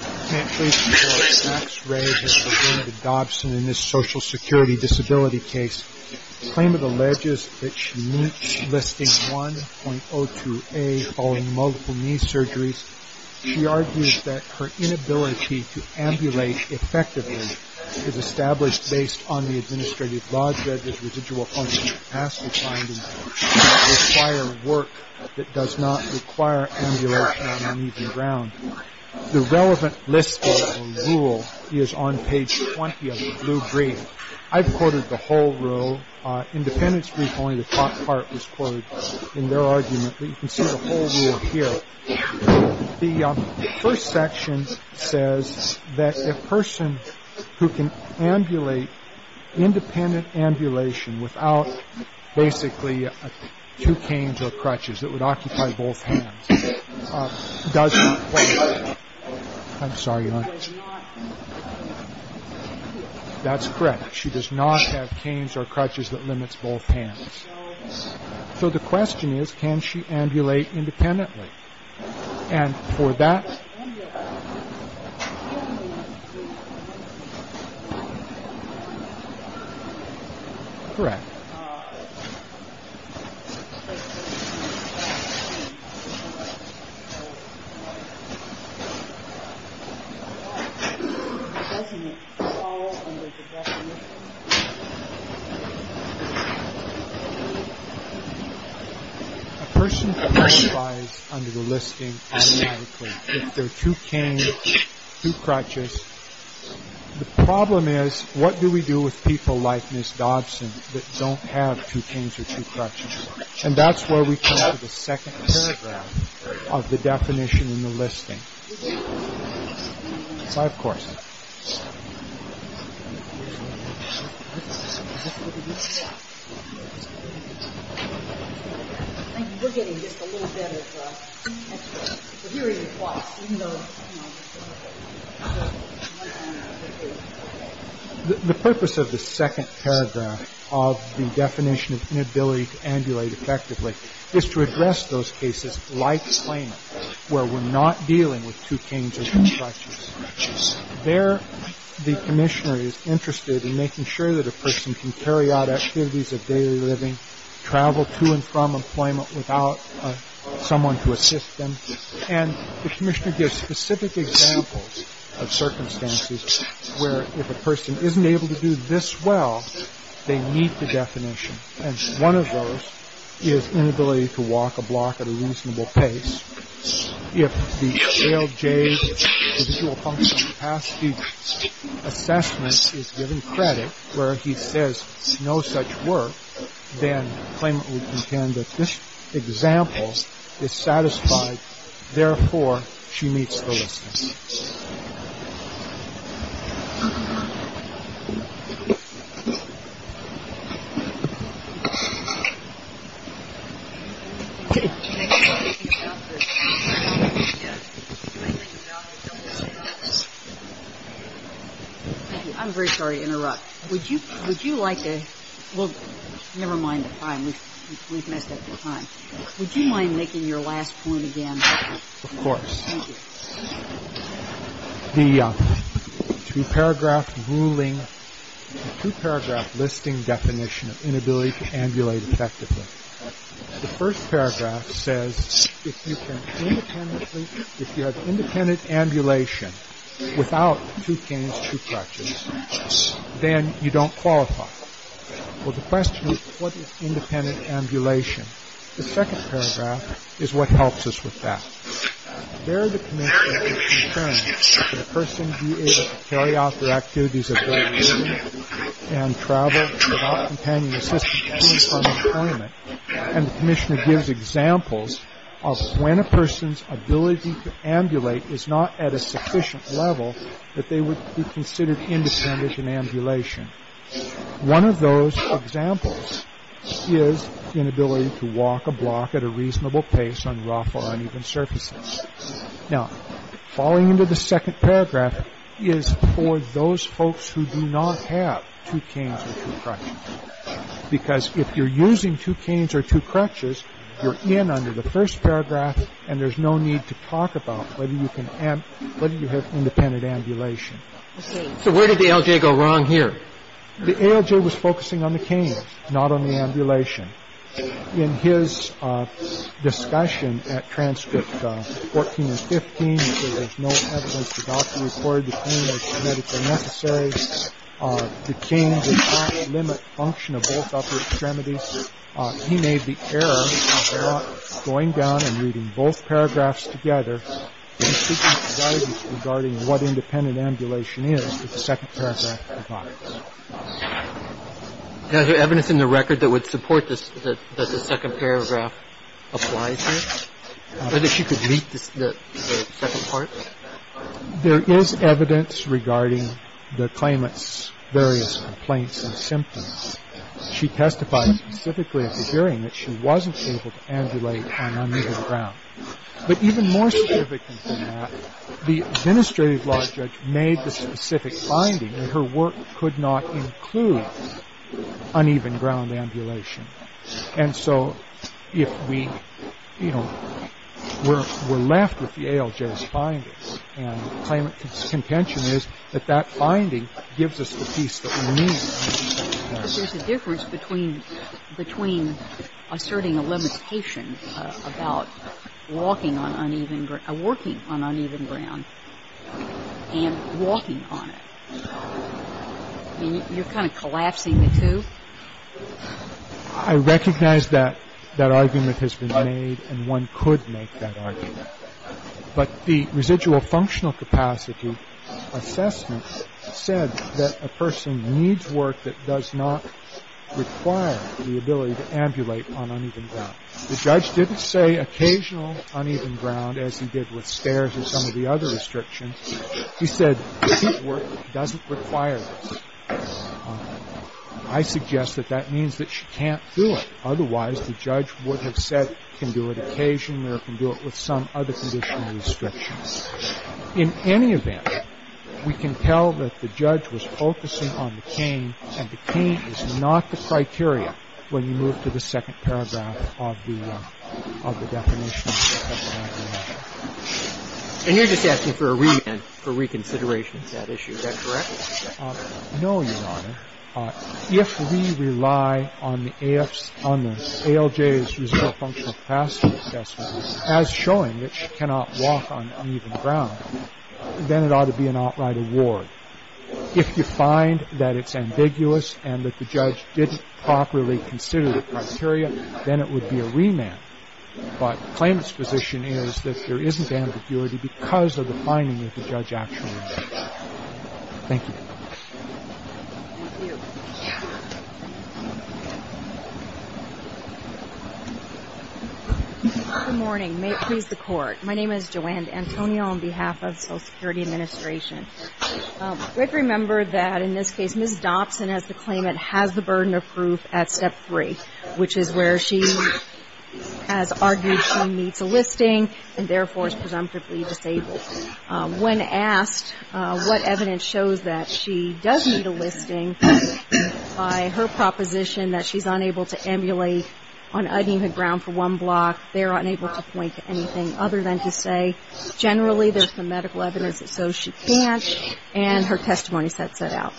I can't wait to hear what Sachs-Ray has to say to Dobson in this social security disability case. In a claim of the ledges that she meets, listing 1.02a, following multiple knee surgeries, she argues that her inability to ambulate effectively is established based on the administrative laws that this residual function has to find and does not require work that does not require ambulation on an even ground. The relevant list rule is on page 20 of the blue brief. I've quoted the whole rule. Independence brief, only the top part was quoted in their argument. You can see the whole rule here. The first section says that a person who can ambulate independent ambulation without basically two canes or crutches that would occupy both hands does not have canes or crutches that limits both hands. So the question is, can she ambulate independently? And for that... Correct. A person who qualifies under the listing, if they're two canes, two crutches, the problem is, what do we do with people like Ms. Dobson that don't have two canes or two crutches? And that's where we come to the second paragraph of the definition in the listing. The purpose of the second paragraph of the definition of inability to ambulate effectively is to address those cases like claimant where we're not dealing with two canes or two crutches. There, the commissioner is interested in making sure that a person can carry out activities of daily living, travel to and from employment without someone to assist them. And the commissioner gives specific examples of circumstances where if a person isn't able to do this well, they meet the definition. And one of those is inability to walk a block at a reasonable pace. If the LJ individual functional capacity assessment is given credit where he says no such work, then claimant would contend that this example is satisfied, therefore, she meets the listing. I'm very sorry to interrupt. Would you would you like to look? Never mind. We've messed up the time. Would you mind making your last point again? Of course. The two paragraph ruling, two paragraph listing definition of inability to ambulate effectively. The first paragraph says if you have independent ambulation without two canes, two crutches, then you don't qualify. Well, the question is what is independent ambulation? The second paragraph is what helps us with that. There the commissioner can determine whether a person is able to carry out their activities of daily living and travel without companion assistance at least from employment. And the commissioner gives examples of when a person's ability to ambulate is not at a sufficient level that they would be considered independent in ambulation. One of those examples is inability to walk a block at a reasonable pace on rough or uneven surfaces. Now, falling into the second paragraph is for those folks who do not have two canes or two crutches, because if you're using two canes or two crutches, you're in under the first paragraph and there's no need to talk about whether you can have independent ambulation. So where did the ALJ go wrong here? The ALJ was focusing on the canes, not on the ambulation. In his discussion at transcript 14 and 15, he said there's no evidence the doctor recorded the canes as medically necessary. The canes did not limit function of both upper extremities. He made the error of not going down and reading both paragraphs together and not looking direly at the alguien in question who assessed that individual Did you have evidence in the record that would support this? That the second paragraph applies here or she could meet the second part? There is evidence regarding the claimant's various complaints and symptoms. She testified specifically at the hearing that she wasn't able to ambulate on uneven ground. But even more significant than that, the administrative law judge made the specific finding that her work could not include uneven ground ambulation. And so if we, you know, we're left with the ALJ's findings and the claimant's contention is that that finding gives us the piece that we need. But there's a difference between asserting a limitation about working on uneven ground and walking on it. You're kind of collapsing the two? I recognize that that argument has been made and one could make that argument. But the residual functional capacity assessment said that a person needs work that does not require the ability to ambulate on uneven ground. The judge didn't say occasional uneven ground as he did with stairs or some of the other restrictions. He said that work doesn't require this. I suggest that that means that she can't do it. Otherwise, the judge would have said you can do it occasionally or you can do it with some other conditional restrictions. In any event, we can tell that the judge was focusing on the cane and the cane is not the criteria when you move to the second paragraph of the definition. And you're just asking for a remand for reconsideration of that issue. Is that correct? No, Your Honor. If we rely on the ALJ's residual functional capacity assessment as showing that she cannot walk on uneven ground, then it ought to be an outright award. If you find that it's ambiguous and that the judge didn't properly consider the criteria, then it would be a remand. But the claimant's position is that there isn't ambiguity because of the finding that the judge actually made. Thank you. Thank you. Good morning. May it please the Court. My name is Joanne D'Antonio on behalf of Social Security Administration. We have to remember that in this case, Ms. Dobson, as the claimant, has the burden of proof at Step 3, which is where she has argued she needs a listing and therefore is presumptively disabled. When asked what evidence shows that she does need a listing, by her proposition that she's unable to ambulate on uneven ground for one block, they're unable to point to anything other than to say generally there's some medical evidence that shows she can't, and her testimony sets that out.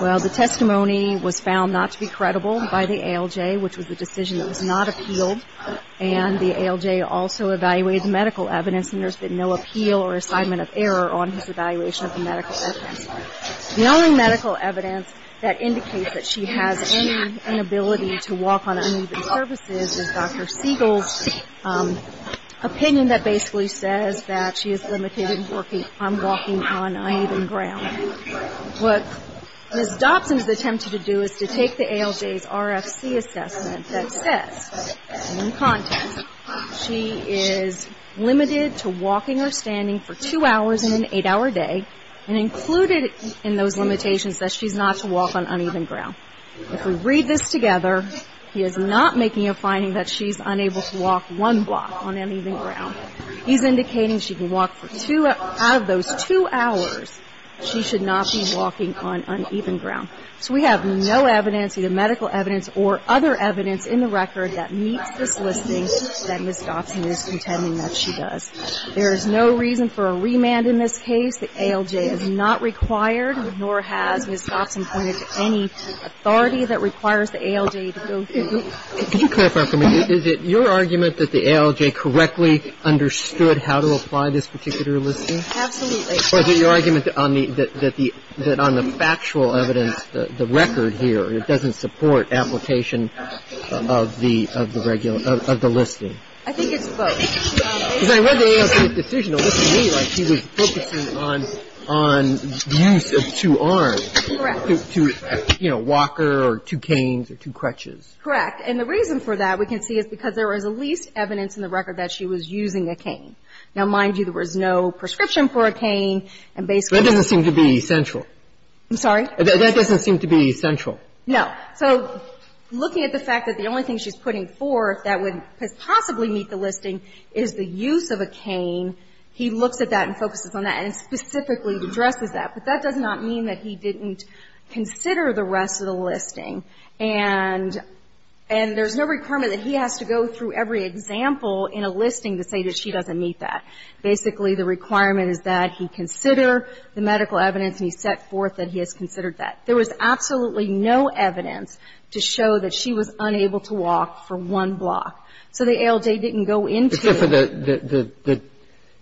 Well, the testimony was found not to be credible by the ALJ, which was a decision that was not appealed, and the ALJ also evaluated the medical evidence, and there's been no appeal or assignment of error on his evaluation of the medical evidence. The only medical evidence that indicates that she has any inability to walk on uneven surfaces is Dr. Siegel's opinion that basically says that she is limited in walking on uneven ground. What Ms. Dobson has attempted to do is to take the ALJ's RFC assessment that says, in context, she is limited to walking or standing for two hours in an eight-hour day and included in those limitations that she's not to walk on uneven ground. If we read this together, he is not making a finding that she's unable to walk one block on uneven ground. He's indicating she can walk for two of those two hours. She should not be walking on uneven ground. So we have no evidence, either medical evidence or other evidence in the record that meets this listing that Ms. Dobson is contending that she does. There is no reason for a remand in this case. The ALJ has not required nor has Ms. Dobson pointed to any authority that requires the ALJ to go through. Can you clarify for me, is it your argument that the ALJ correctly understood how to apply this particular listing? Absolutely. Or is it your argument that on the factual evidence, the record here, it doesn't support application of the listing? I think it's both. Because I read the ALJ's decision to listen to me like she was focusing on use of two arms. Correct. You know, walker or two canes or two crutches. Correct. And the reason for that, we can see, is because there was at least evidence in the record that she was using a cane. Now, mind you, there was no prescription for a cane, and basically the cane. That doesn't seem to be central. I'm sorry? That doesn't seem to be central. No. So looking at the fact that the only thing she's putting forth that would possibly meet the listing is the use of a cane, he looks at that and focuses on that and specifically addresses that. But that does not mean that he didn't consider the rest of the listing. And there's no requirement that he has to go through every example in a listing to say that she doesn't meet that. Basically, the requirement is that he consider the medical evidence and he set forth that he has considered that. There was absolutely no evidence to show that she was unable to walk for one block. So the ALJ didn't go into it. Except for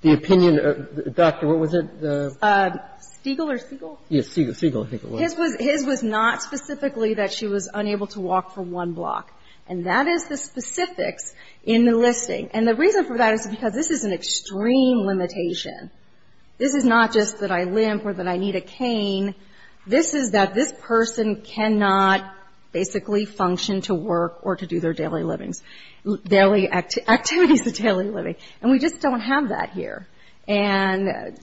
the opinion of the doctor. What was it? Siegel. Siegel, I think it was. His was not specifically that she was unable to walk for one block. And that is the specifics in the listing. And the reason for that is because this is an extreme limitation. This is not just that I limp or that I need a cane. This is that this person cannot basically function to work or to do their daily livings, activities of daily living. And we just don't have that here. And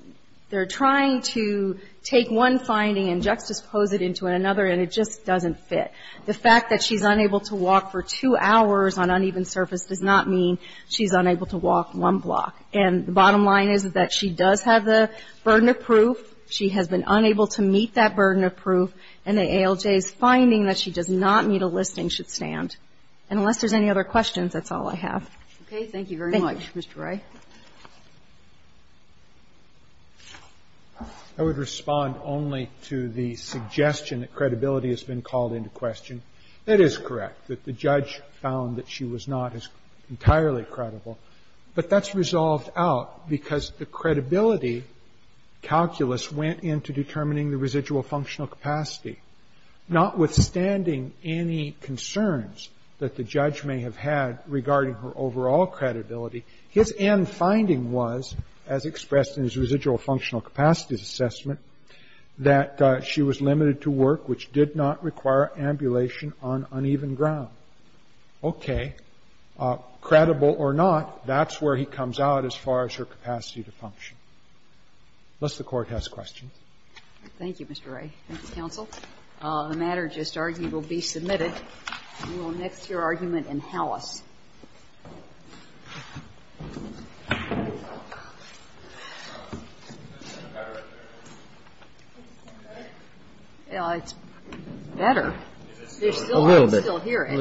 they're trying to take one finding and juxtapose it into another, and it just doesn't fit. The fact that she's unable to walk for two hours on uneven surface does not mean she's unable to walk one block. And the bottom line is that she does have the burden of proof. She has been unable to meet that burden of proof. And the ALJ's finding that she does not meet a listing should stand. And unless there's any other questions, that's all I have. Okay. Thank you very much, Mr. Wray. I would respond only to the suggestion that credibility has been called into question. It is correct that the judge found that she was not entirely credible. But that's resolved out because the credibility calculus went into determining the residual functional capacity. Notwithstanding any concerns that the judge may have had regarding her overall credibility, his end finding was, as expressed in his residual functional capacities assessment, that she was limited to work which did not require ambulation on uneven ground. Okay. Credible or not, that's where he comes out as far as her capacity to function. Unless the Court has questions. Thank you, Mr. Wray. Thank you, counsel. The matter just argued will be submitted. We will next hear argument in house. It's better. A little bit. I can still hear it. A little bit. Okay. Okay.